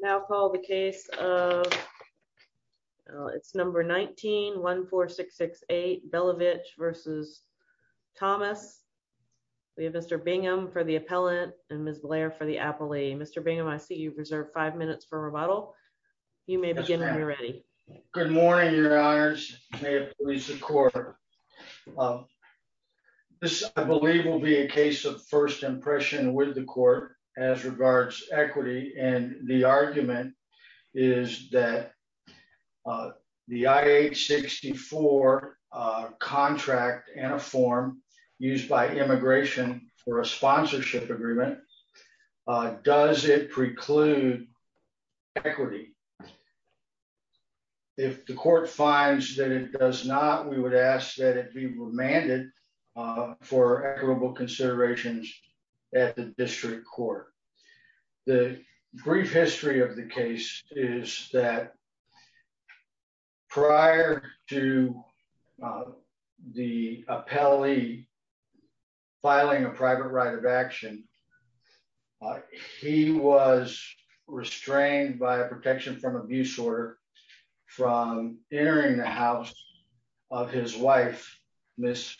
Now call the case of it's number 1914668 Belevich versus Thomas. We have Mr Bingham for the appellant, and Miss Blair for the appellee Mr Bingham I see you've reserved five minutes for rebuttal. You may begin when you're ready. Good morning, your honors, Lisa quarter. This, I believe, will be a case of first impression with the court as regards equity and the argument is that the IH 64 contract and a form used by immigration for a sponsorship agreement. Does it preclude equity. If the court finds that it does not we would ask that it be remanded for equitable considerations at the district court. The brief history of the case is that prior to the appellee filing a private right of action. He was restrained by a protection from abuse order from entering the house of his wife, Miss.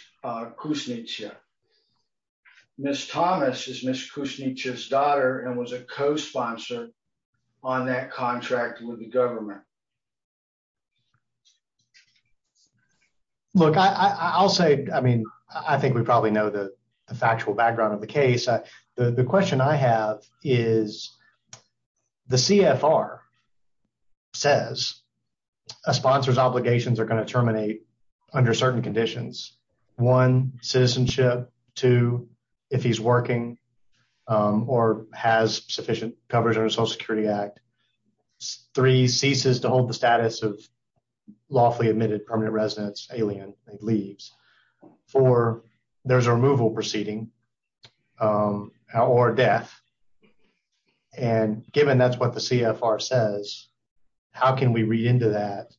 Miss Thomas is Miss cushy just daughter and was a co sponsor on that contract with the government. Look, I'll say, I mean, I think we probably know the factual background of the case. The question I have is the CFR says a sponsor's obligations are going to terminate under certain conditions. One citizenship to if he's working or has sufficient coverage or social security act three ceases to hold the status of lawfully admitted permanent residents alien leaves for there's a removal proceeding or death. And given that's what the CFR says, how can we read into that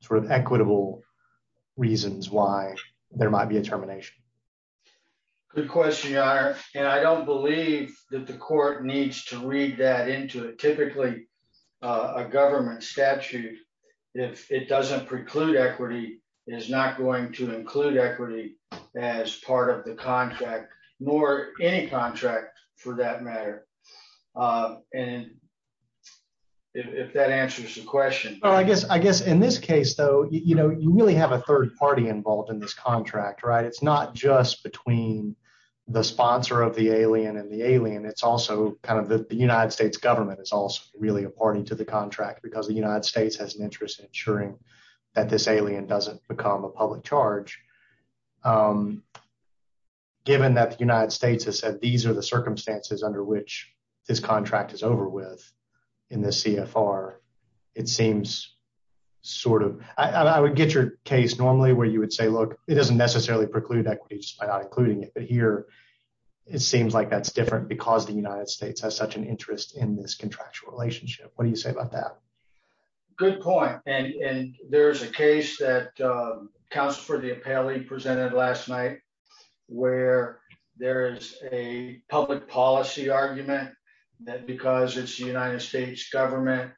sort of equitable reasons why there might be a termination. Good question. And I don't believe that the court needs to read that into a typically a government statute. If it doesn't preclude equity is not going to include equity as part of the contract, nor any contract, for that matter. And if that answers the question, I guess, I guess, in this case, though, you know, you really have a third party involved in this contract, right, it's not just between the sponsor of the alien and the alien. It's also kind of the United States government is also really a party to the contract because the United States has an interest in ensuring that this alien doesn't become a public charge. Given that the United States has said these are the circumstances under which this contract is over with in the CFR. It seems sort of, I would get your case normally where you would say look, it doesn't necessarily preclude that by not including it but here. It seems like that's different because the United States has such an interest in this contractual relationship, what do you say about that. Good point. And there's a case that counts for the appellee presented last night, where there is a public policy argument that because it's the United States government,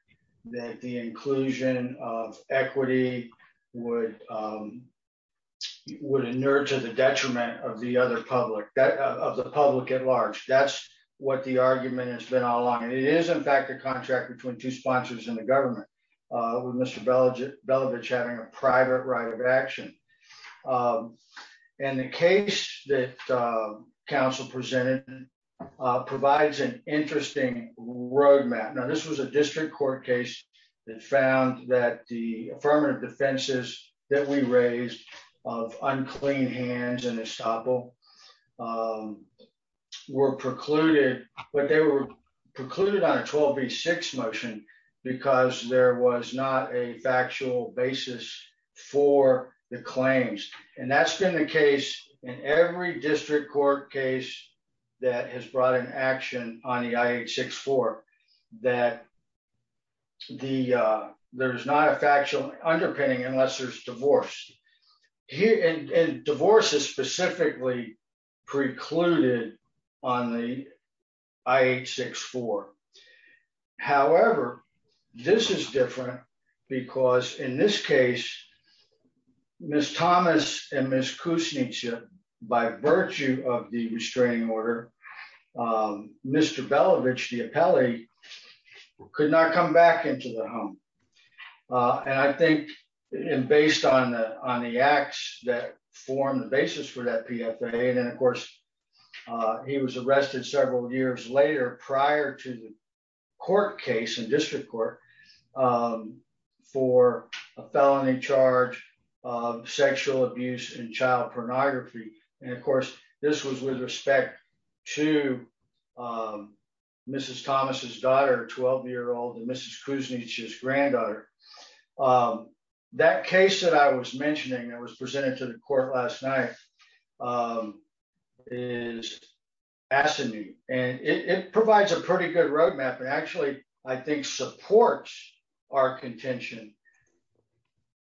that the inclusion of equity would would inure to the detriment of the public at large. That's what the argument has been all along and it is in fact a contract between two sponsors in the government with Mr. Belovitch having a private right of action. And the case that Council presented provides an interesting roadmap now this was a district court case that found that the affirmative defenses that we raised of unclean hands and a sample were precluded, but they were precluded on a 12 v six motion, because there was not a factual basis for the claims, and that's been the case in every district court case that has brought an action on the six for that. The, there's not a factual underpinning unless there's divorce here and divorce is specifically precluded on the eight six four. However, this is different, because in this case. Miss Thomas, and Miss Kusnica by virtue of the restraining order. Mr Belovitch the appellee could not come back into the home. And I think, and based on the, on the acts that form the basis for that PFA and then of course he was arrested several years later prior to the court case and district court for a felony charge of sexual abuse and child pornography. And of course, this was with respect to Mrs Thomas's daughter 12 year old and Mrs Kusnica's granddaughter. That case that I was mentioning that was presented to the court last night is asking me, and it provides a pretty good roadmap and actually, I think supports our contention.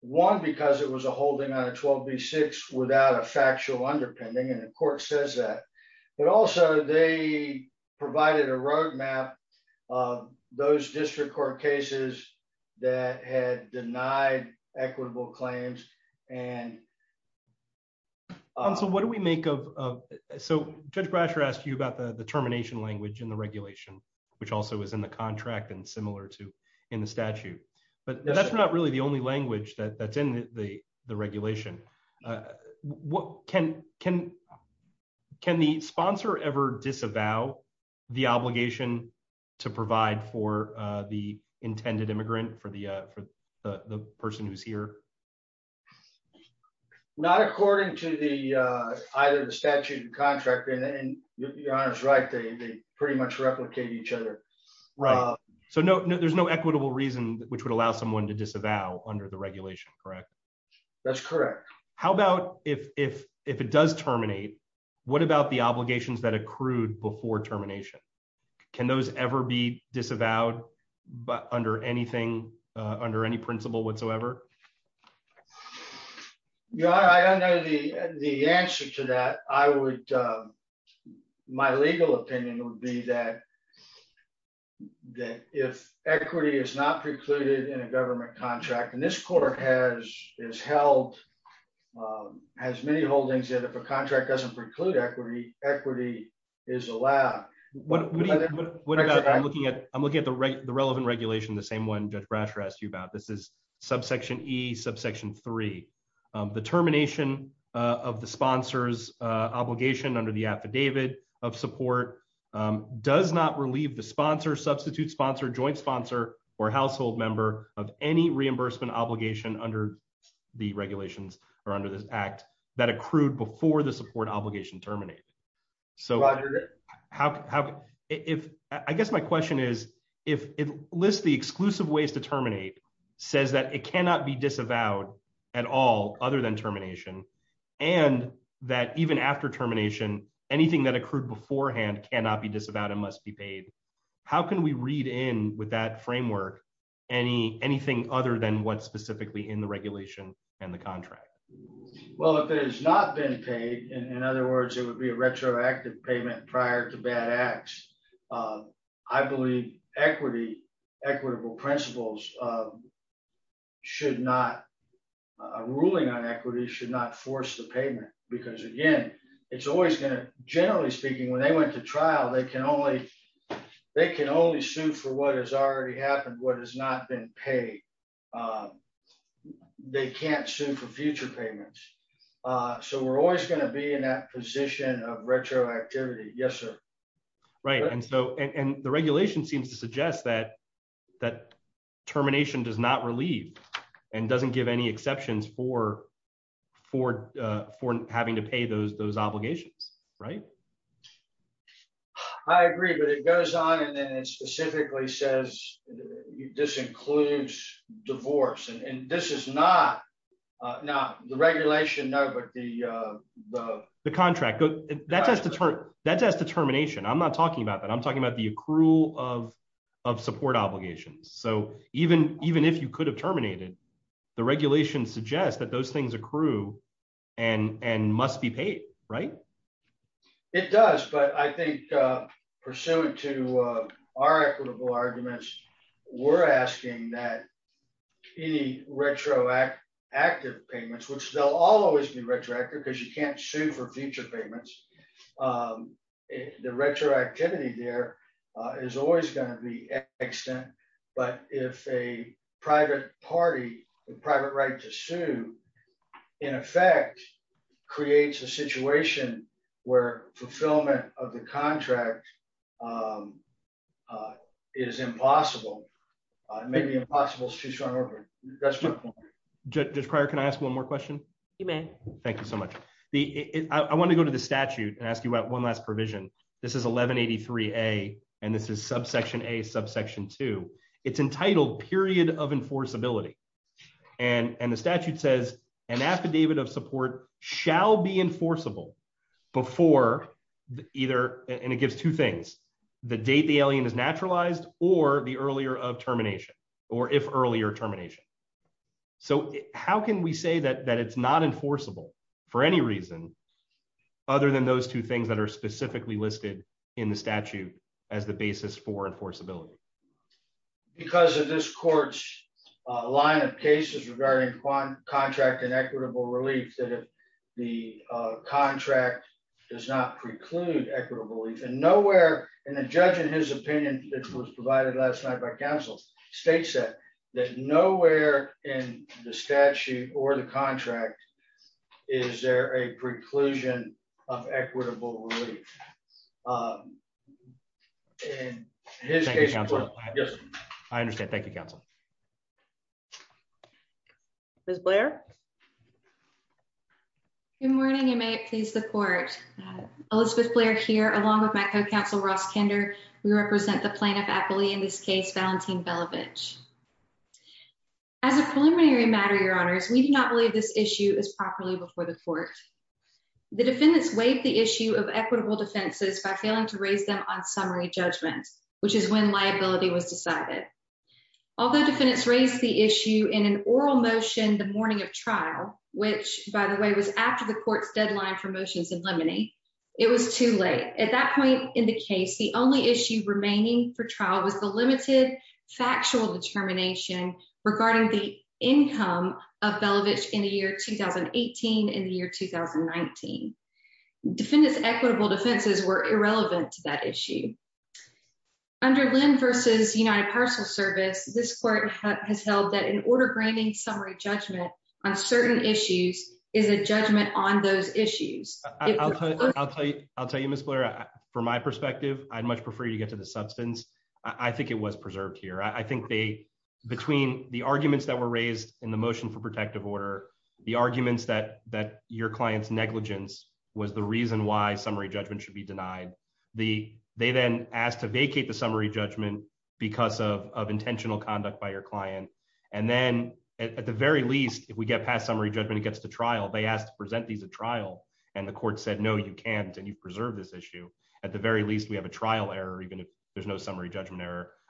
One because it was a holding on a 12 v six without a factual underpinning and of course says that, but also they provided a roadmap. Those district court cases that had denied equitable claims and. So what do we make of. So, Judge Brasher asked you about the the termination language in the regulation, which also is in the contract and similar to in the statute, but that's not really the only language that that's in the, the regulation. What can, can, can the sponsor ever disavow the obligation to provide for the intended immigrant for the, for the person who's here. Not according to the, either the statute and contract and you're right they pretty much replicate each other. Right. So no, no, there's no equitable reason, which would allow someone to disavow under the regulation, correct. That's correct. How about if, if, if it does terminate. What about the obligations that accrued before termination. Can those ever be disavowed, but under anything under any principle whatsoever. Yeah, I know the, the answer to that, I would. My legal opinion would be that, that if equity is not precluded in a government contract and this court has is held has many holdings that if a contract doesn't preclude equity, equity is allowed. What I'm looking at, I'm looking at the right the relevant regulation the same one just brush rest you about this is subsection E subsection three, the termination of the sponsors obligation under the affidavit of support does not relieve the sponsor substitute sponsor joint sponsor or household member of any reimbursement obligation under the regulations are under this act that accrued before the support obligation terminate. So, how, if I guess my question is, if it lists the exclusive ways to terminate says that it cannot be disavowed at all, other than termination, and that even after termination, anything that accrued beforehand cannot be disavowed and must be paid. How can we read in with that framework, any, anything other than what specifically in the regulation and the contract. Well, if it has not been paid. In other words, it would be a retroactive payment prior to bad acts. I believe equity equitable principles should not a ruling on equity should not force the payment, because again, it's always going to generally speaking when they went to trial they can only they can only sue for what has already happened what has not been paid. They can't sue for future payments. So we're always going to be in that position of retroactivity. Yes, sir. Right. And so, and the regulation seems to suggest that that termination does not relieve and doesn't give any exceptions for for for having to pay those those obligations. Right. I agree, but it goes on and then it specifically says this includes divorce and this is not. Now, the regulation no but the, the contract that has to turn that test determination I'm not talking about that I'm talking about the accrual of of support obligations. So, even, even if you could have terminated the regulation suggests that those things accrue and and must be paid. Right. It does, but I think, pursuant to our equitable arguments. We're asking that any retroactive active payments which they'll always be retroactive because you can't sue for future payments. The retroactivity there is always going to be extent, but if a private party, the private right to sue. In effect, creates a situation where fulfillment of the contract is impossible. Maybe impossible to start over. Just prior Can I ask one more question. You may. Thank you so much. The, I want to go to the statute and ask you about one last provision. This is 1183 a, and this is subsection a subsection to its entitled period of enforceability and and the statute says an affidavit of support shall be enforceable before either, and it gives two things. The date the alien is naturalized, or the earlier of termination, or if earlier termination. So, how can we say that that it's not enforceable for any reason, other than those two things that are specifically listed in the statute as the basis for enforceability, because of this court's line of cases regarding one contract and equitable relief the contract does not preclude equitable and nowhere in the judge in his opinion, this was provided last night by Council states that that nowhere in the statute or the contract. Is there a preclusion of equitable relief. Yes. I understand. Thank you, counsel. There's Blair. Good morning and may it please the court. Elizabeth Blair here along with my co counsel Ross kinder, we represent the plaintiff aptly in this case Valentine Belovitch. As a preliminary matter your honors we do not believe this issue is properly before the court. The defendants wave the issue of equitable defenses by failing to raise them on summary judgment, which is when liability was decided. Although defendants raised the issue in an oral motion the morning of trial, which, by the way, was after the court's deadline for motions and lemony. It was too late at that point in the case the only issue remaining for trial was the limited factual determination regarding the income of Belovitch in the year 2018 and the year 2019 defendants equitable defenses were irrelevant to that issue. Under Lynn versus United Parcel Service, this court has held that in order branding summary judgment on certain issues is a judgment on those issues. I'll tell you, I'll tell you, I'll tell you Miss Blair, from my perspective, I'd much prefer you get to the substance. I think it was preserved here I think they between the arguments that were raised in the motion for protective order, the arguments that that your clients negligence was the reason why summary judgment should be denied the they then asked to vacate the summary judgment, because of intentional conduct by your client. And then, at the very least, if we get past summary judgment gets to trial they asked to present these a trial, and the court said no you can't and you preserve this issue at the very least we have a trial error even if there's no summary judgment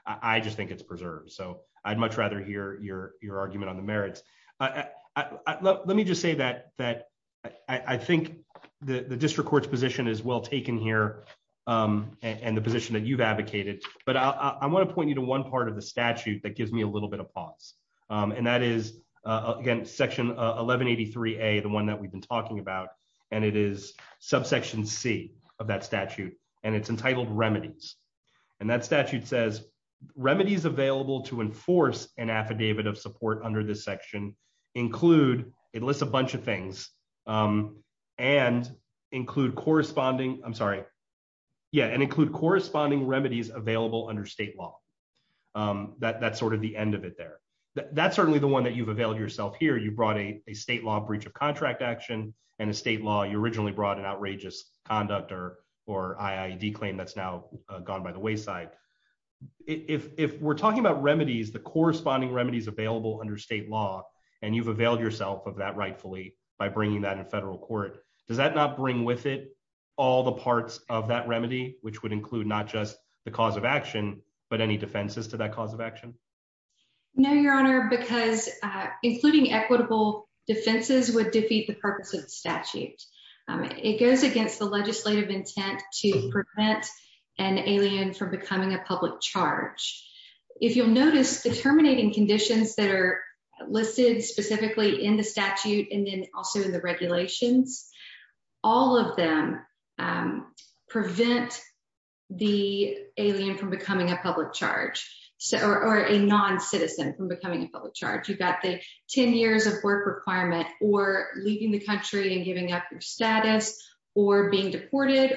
I just think it's preserved so I'd much rather hear your, your argument on the merits. Let me just say that, that I think the district courts position is well taken here, and the position that you've advocated, but I want to point you to one part of the statute that gives me a little bit of pause. And that is again section 1183 a the one that we've been talking about, and it is subsection C of that statute, and it's entitled remedies, and that statute says remedies available to enforce an affidavit of support under this section include it lists a bunch of things, and include corresponding, I'm sorry. Yeah, and include corresponding remedies available under state law. That that's sort of the end of it there. That's certainly the one that you've availed yourself here you brought a state law breach of contract action and a state law you originally brought an outrageous conduct or or I ID claim that's now gone by the wayside. If we're talking about remedies the corresponding remedies available under state law, and you've availed yourself of that rightfully by bringing that in federal court. Does that not bring with it all the parts of that remedy, which would include not just the cause of action, but any defenses to that cause of action. No, Your Honor, because, including equitable defenses would defeat the purpose of statute. It goes against the legislative intent to prevent an alien from becoming a public charge. If you'll notice the terminating conditions that are listed specifically in the statute and then also in the regulations. All of them prevent the alien from becoming a public charge, or a non citizen from becoming a public charge you got the 10 years of work requirement, or leaving the country and giving up your status or being deported,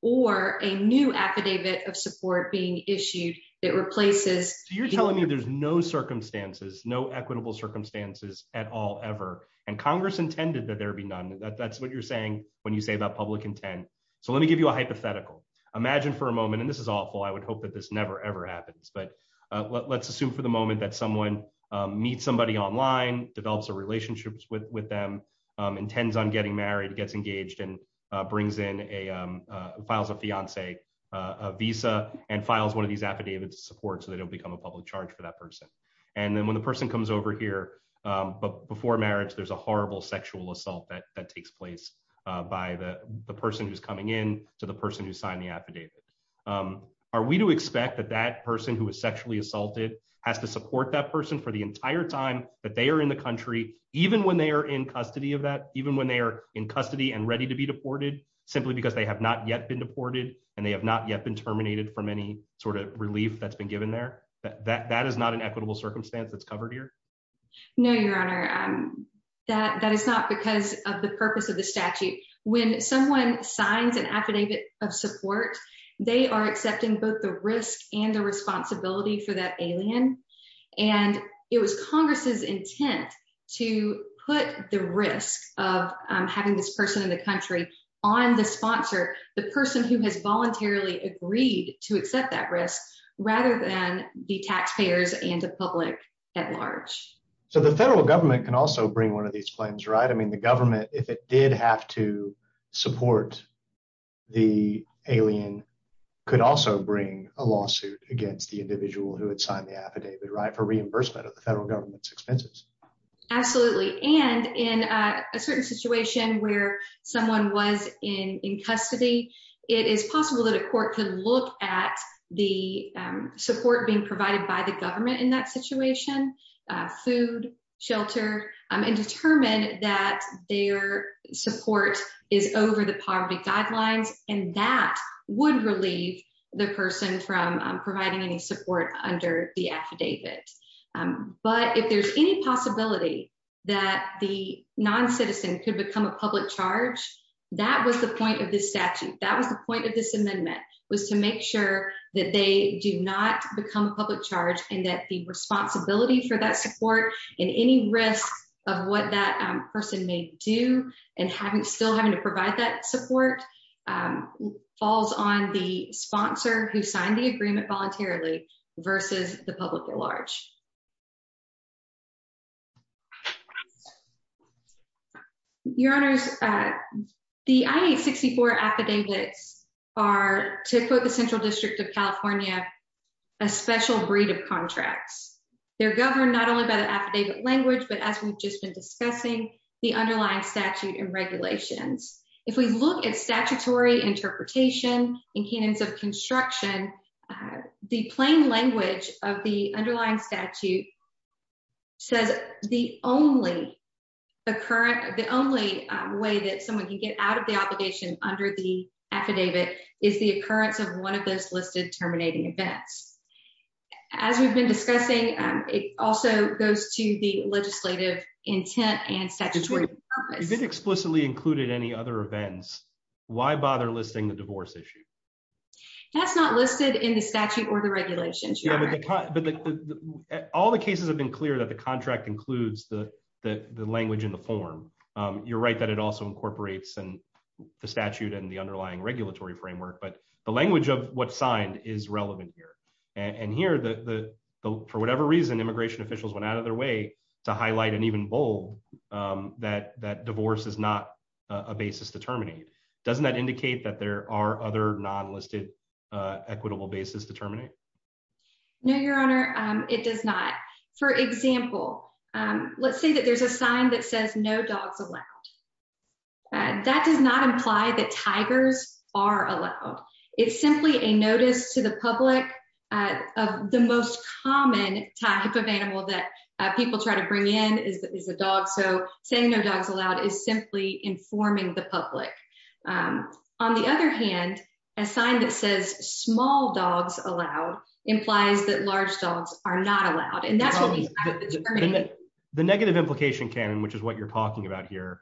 or a new affidavit of support being issued that replaces you're telling me there's no circumstances no equitable circumstances at all ever, and Congress intended that there be none of that that's what you're saying when you say that public intent. So let me give you a hypothetical. Imagine for a moment and this is awful I would hope that this never ever happens but let's assume for the moment that someone meet somebody online develops a relationships with with them intends on getting married gets engaged and brings in a files a fiance visa and files one of these affidavits support so they don't become a public charge for that person. And then when the person comes over here. But before marriage there's a horrible sexual assault that that takes place by the person who's coming in to the person who signed the affidavit. Are we to expect that that person who was sexually assaulted has to support that person for the entire time that they are in the country, even when they are in custody of that even when they are in custody and ready to be deported, simply because they have not yet been deported, and they have not yet been terminated from any sort of relief that's been given there that that is not an equitable circumstance that's covered here. No, Your Honor. That that is not because of the purpose of the statute, when someone signs an affidavit of support. They are accepting both the risk and the responsibility for that alien. And it was Congress's intent to put the risk of having this person in the country on the sponsor, the person who has voluntarily agreed to accept that risk, rather than the taxpayers and the public at large. So the federal government can also bring one of these plans right I mean the government, if it did have to support the alien could also bring a lawsuit against the individual who had signed the affidavit right for reimbursement of the federal government's where someone was in custody. It is possible that a court can look at the support being provided by the government in that situation, food, shelter, and determine that their support is over the poverty guidelines, and that would relieve the person from providing any support under the affidavit. But if there's any possibility that the non citizen could become a public charge. That was the point of this statute that was the point of this amendment was to make sure that they do not become a public charge and that the responsibility for that support in any risk of what that person may do, and having still having to provide that support falls on the sponsor who signed the agreement voluntarily versus the public at large. Your Honors. The 64 affidavits are to put the central district of California, a special breed of contracts, they're governed not only by the affidavit language but as we've just been discussing the underlying statute and regulations. If we look at statutory interpretation and canons of construction. The plain language of the underlying statute says the only the current, the only way that someone can get out of the obligation under the affidavit is the occurrence of one of those listed terminating events. As we've been discussing. It also goes to the legislative intent and statutory explicitly included any other events. Why bother listing the divorce issue. That's not listed in the statute or the regulations. All the cases have been clear that the contract includes the, the language in the form. You're right that it also incorporates and the statute and the underlying regulatory framework but the language of what signed is relevant here. And here the for whatever reason immigration officials went out of their way to highlight and even bold that that divorce is not a basis to terminate. Doesn't that indicate that there are other non listed equitable basis to terminate. No, Your Honor. It does not. For example, let's say that there's a sign that says no dogs allowed. That does not imply that tigers are allowed. It's simply a notice to the public of the most common type of animal that people try to bring in is a dog so saying no dogs allowed is simply informing the public. On the other hand, a sign that says small dogs allowed implies that large dogs are not allowed and that's the negative implication cannon which is what you're talking about here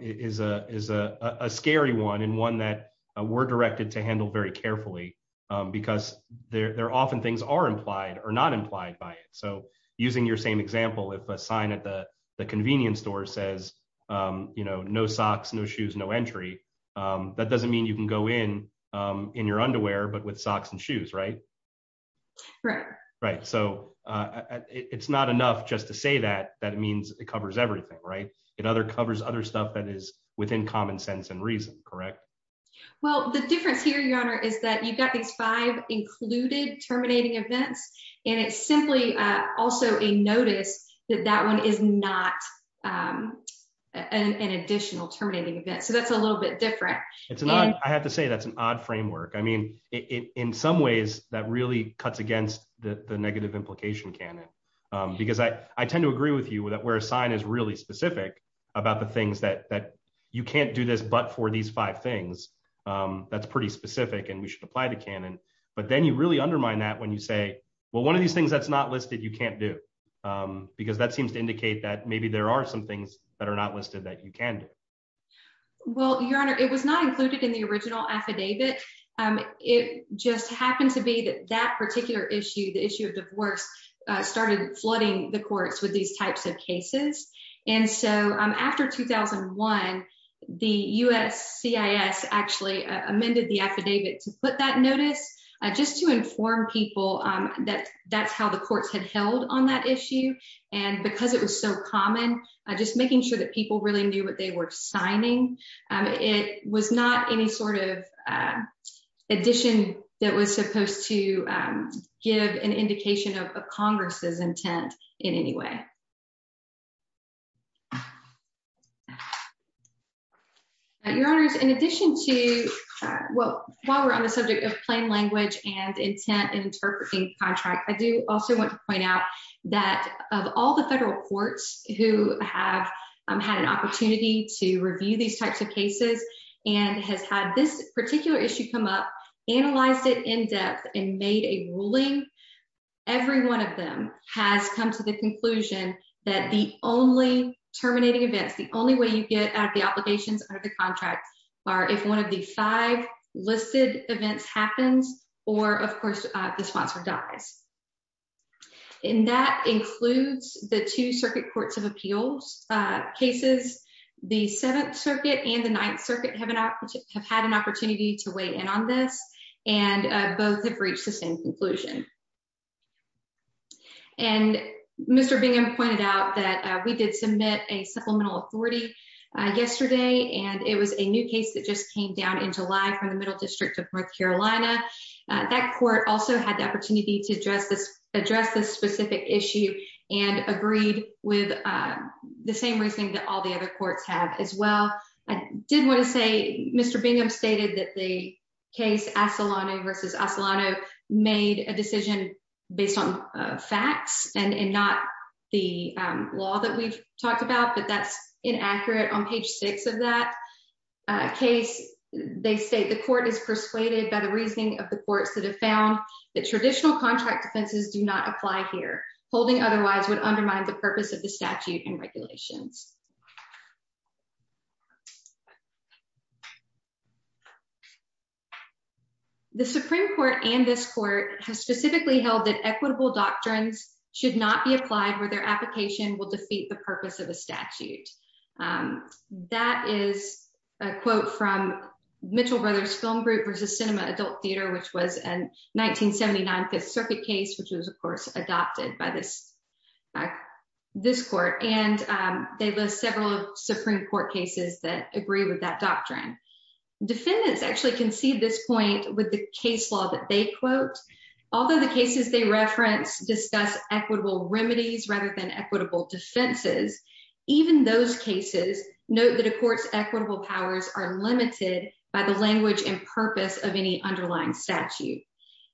is a is a scary one and one that were directed to handle very carefully, because they're that doesn't mean you can go in, in your underwear but with socks and shoes right. Right, right. So, it's not enough just to say that, that means it covers everything right and other covers other stuff that is within common sense and reason, correct. Well, the difference here Your Honor is that you've got these five included terminating events, and it's simply also a notice that that one is not an additional terminating event so that's a little bit different. It's not, I have to say that's an odd framework I mean, in some ways, that really cuts against the negative implication cannon, because I, I tend to agree with you with that where a sign is really specific about the things that that you can't do this but for these five things. That's pretty specific and we should apply the cannon, but then you really undermine that when you say, well one of these things that's not listed you can't do, because that seems to indicate that maybe there are some things that are not listed that you can do. Well, Your Honor, it was not included in the original affidavit. It just happened to be that that particular issue the issue of divorce started flooding the courts with these types of cases. And so, after 2001, the USC is actually amended the affidavit to put that notice, just to inform people that that's how the courts had held on that issue. And because it was so common, just making sure that people really knew what they were signing. It was not any sort of addition that was supposed to give an indication of Congress's intent in any way. Your Honors, in addition to what while we're on the subject of plain language and intent and interpreting contract, I do also want to point out that of all the federal courts who have had an opportunity to review these types of cases, and has had this that the only terminating events, the only way you get out of the obligations under the contract are if one of the five listed events happens, or of course, the sponsor dies. And that includes the two circuit courts of appeals cases, the Seventh Circuit and the Ninth Circuit have had an opportunity to weigh in on this, and both have reached the same conclusion. And Mr. Bingham pointed out that we did submit a supplemental authority yesterday and it was a new case that just came down in July from the Middle District of North Carolina. That court also had the opportunity to address this specific issue and agreed with the same reasoning that all the other courts have as well. I did want to say, Mr. Bingham stated that the case Asolano v. Asolano made a decision based on facts and not the law that we've talked about, but that's inaccurate. On page six of that case, they state the court is persuaded by the reasoning of the courts that have found that traditional contract defenses do not apply here, holding otherwise would undermine the purpose of the statute and regulations. Next. The Supreme Court and this court has specifically held that equitable doctrines should not be applied where their application will defeat the purpose of the statute. That is a quote from Mitchell Brothers Film Group v. Cinema Adult Theater, which was a 1979 Fifth Circuit case, which was of course adopted by this court, and they list several Supreme Court cases that agree with that doctrine. Defendants actually concede this point with the case law that they quote. Although the cases they reference discuss equitable remedies rather than equitable defenses, even those cases note that a court's equitable powers are limited by the language and purpose of any underlying statute.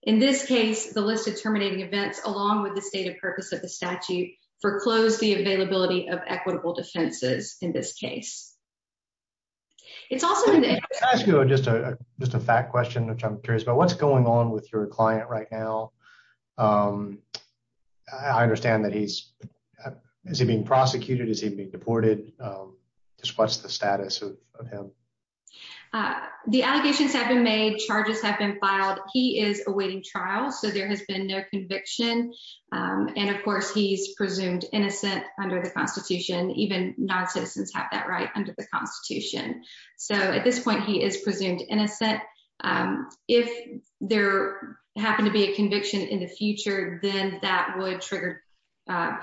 In this case, the list of terminating events, along with the state of purpose of the statute, foreclosed the availability of equitable defenses in this case. It's also just a just a fact question, which I'm curious about what's going on with your client right now. I understand that he's being prosecuted as he'd be deported. Just what's the status of him. The allegations have been made charges have been filed, he is awaiting trial so there has been no conviction. And of course he's presumed innocent under the Constitution, even non citizens have that right under the Constitution. So at this point he is presumed innocent. If there happened to be a conviction in the future, then that would trigger. That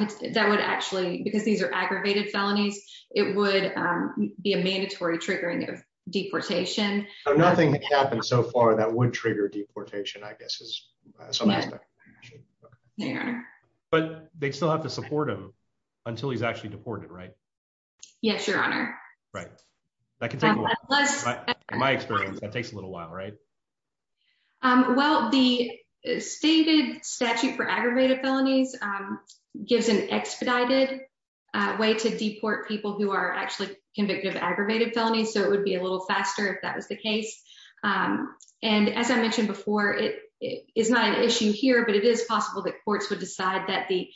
would actually because these are aggravated felonies, it would be a mandatory triggering of deportation, nothing happened so far that would trigger deportation I guess is some aspect. But they still have to support him until he's actually deported right. Yes, Your Honor. Right. My experience that takes a little while right. Well, the stated statute for aggravated felonies gives an expedited way to deport people who are actually convicted of aggravated felony so it would be a little faster if that was the case. And as I mentioned before, it is not an issue here but it is possible that courts would decide that the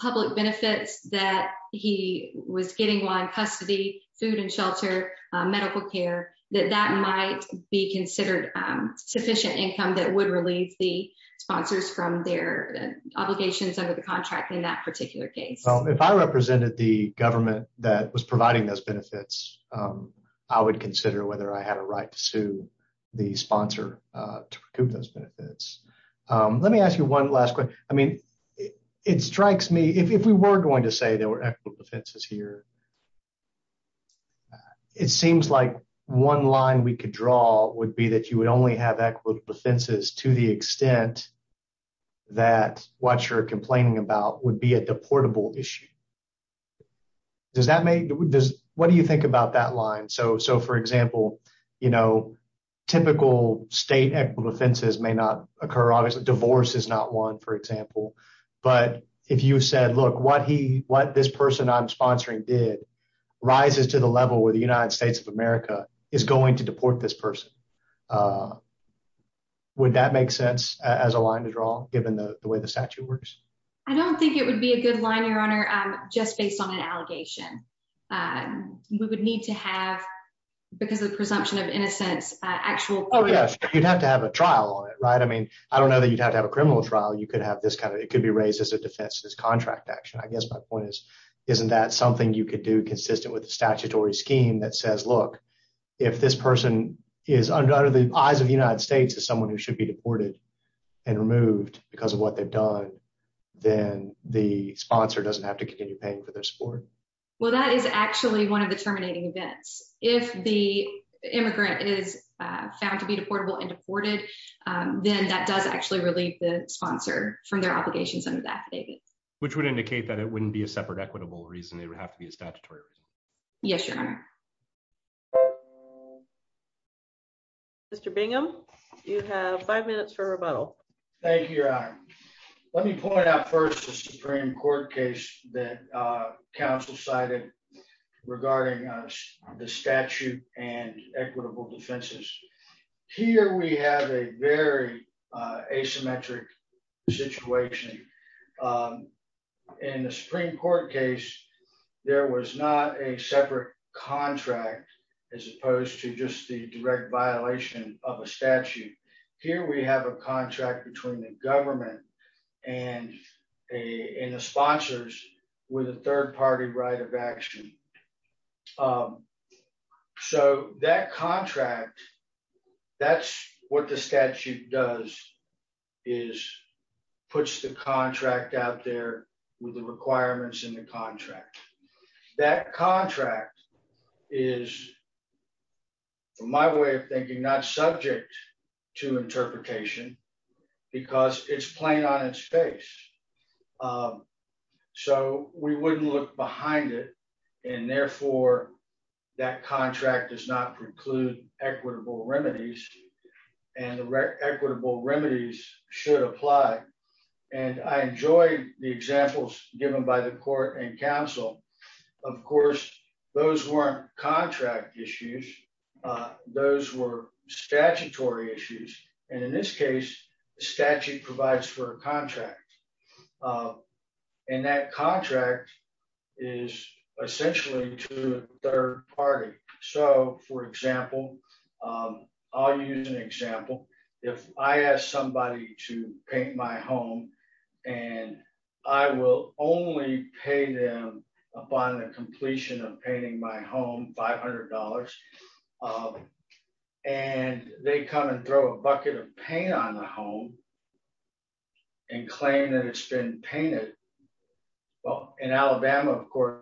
public benefits that he was getting one custody, food and shelter, medical care that that might be considered sufficient income that would relieve the sponsors from their obligations under the contract in that particular case. Well, if I represented the government that was providing those benefits. I would consider whether I had a right to sue the sponsor to recoup those benefits. Let me ask you one last question. I mean, it strikes me if we were going to say they were equitable defenses here. It seems like one line we could draw would be that you would only have equitable defenses to the extent that what you're complaining about would be a deportable issue. Does that make this, what do you think about that line so so for example, you know, typical state equity offenses may not occur obviously divorce is not one for example. But if you said look what he what this person I'm sponsoring did rises to the level where the United States of America is going to deport this person. Would that make sense as a line to draw, given the way the statute works. I don't think it would be a good line your honor, just based on an allegation. We would need to have, because the presumption of innocence, actual. Oh yes, you'd have to have a trial on it right i mean i don't know that you'd have to have a criminal trial you could have this kind of, it could be raised as a defense this contract action I guess my point is, isn't that something you could do consistent with the statutory scheme that says look, if this person is under the eyes of the United States as someone who should be deported and removed because of what they've done. Then the sponsor doesn't have to continue paying for their support. Well that is actually one of the terminating events, if the immigrant is found to be deportable and deported, then that does actually relieve the sponsor from their obligations under that, which would indicate that it wouldn't be a separate equitable reason they would have to be a statutory. Yes, your honor. Mr Bingham, you have five minutes for rebuttal. Thank you. Let me point out first the Supreme Court case that council cited regarding the statute and equitable defenses. Here we have a very asymmetric situation. In the Supreme Court case, there was not a separate contract, as opposed to just the direct violation of a statute. Here we have a contract between the government and a sponsors with a third party right of action. So that contract, that's what the statute does, is puts the contract out there with the requirements in the contract. That contract is, from my way of thinking, not subject to interpretation, because it's plain on its face. So we wouldn't look behind it, and therefore that contract does not preclude equitable remedies, and equitable remedies should apply. And I enjoy the examples given by the court and council. Of course, those weren't contract issues. Those were statutory issues. And in this case, the statute provides for a contract. And that contract is essentially to a third party. So, for example, I'll use an example. If I ask somebody to paint my home, and I will only pay them upon the completion of painting my home $500, and they come and throw a bucket of paint on the home and claim that it's been painted. Well, in Alabama, of course,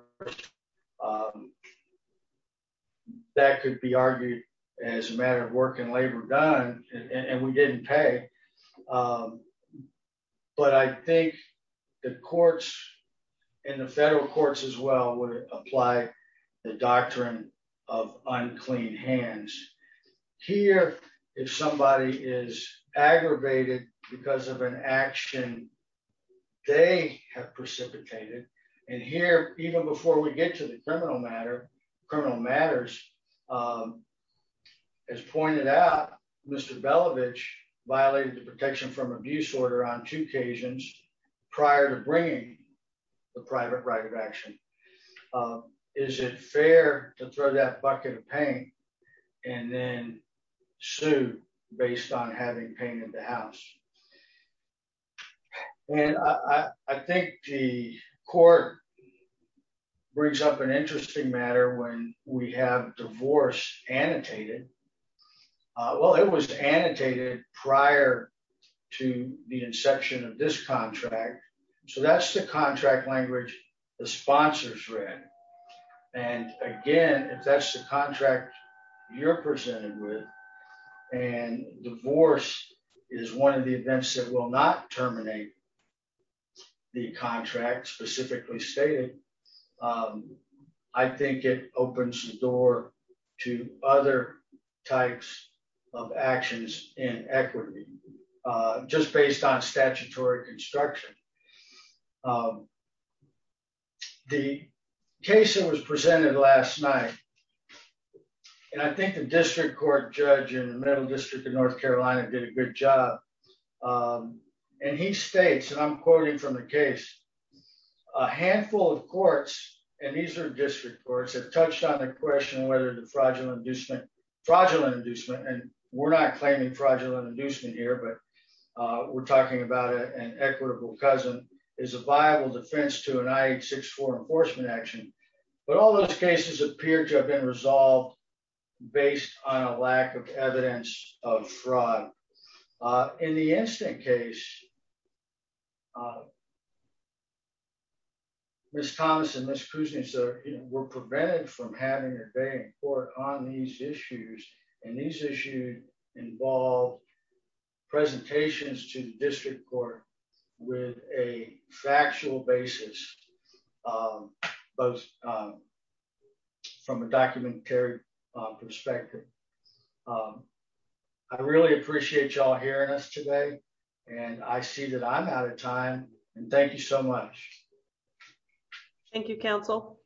that could be argued as a matter of work and labor done, and we didn't pay. But I think the courts and the federal courts as well would apply the doctrine of unclean hands. Here, if somebody is aggravated because of an action, they have precipitated. And here, even before we get to the criminal matter, criminal matters, as pointed out, Mr. Belovitch violated the protection from abuse order on two occasions prior to bringing the private right of action. Is it fair to throw that bucket of paint and then sue based on having painted the house. And I think the court brings up an interesting matter when we have divorce annotated. Well, it was annotated prior to the inception of this contract. So that's the contract language, the sponsors read. And again, if that's the contract you're presented with, and divorce is one of the events that will not terminate the contract specifically stated. I think it opens the door to other types of actions in equity, just based on statutory construction. The case that was presented last night. And I think the district court judge in the middle district of North Carolina did a good job. And he states and I'm quoting from the case, a handful of courts, and these are district courts have touched on the question whether the fraudulent inducement fraudulent inducement and we're not claiming fraudulent inducement here but we're talking about an equitable cousin is a viable defense to a night six for enforcement action, but all those cases appear to have been resolved, based on a lack of evidence of fraud in the instant case. Miss Thomas and Miss cruising so we're prevented from having a day or on these issues, and these issues involve presentations to the district court with a factual basis, both from a documentary perspective. I really appreciate y'all hearing us today, and I see that I'm out of time, and thank you so much. Thank you, Council.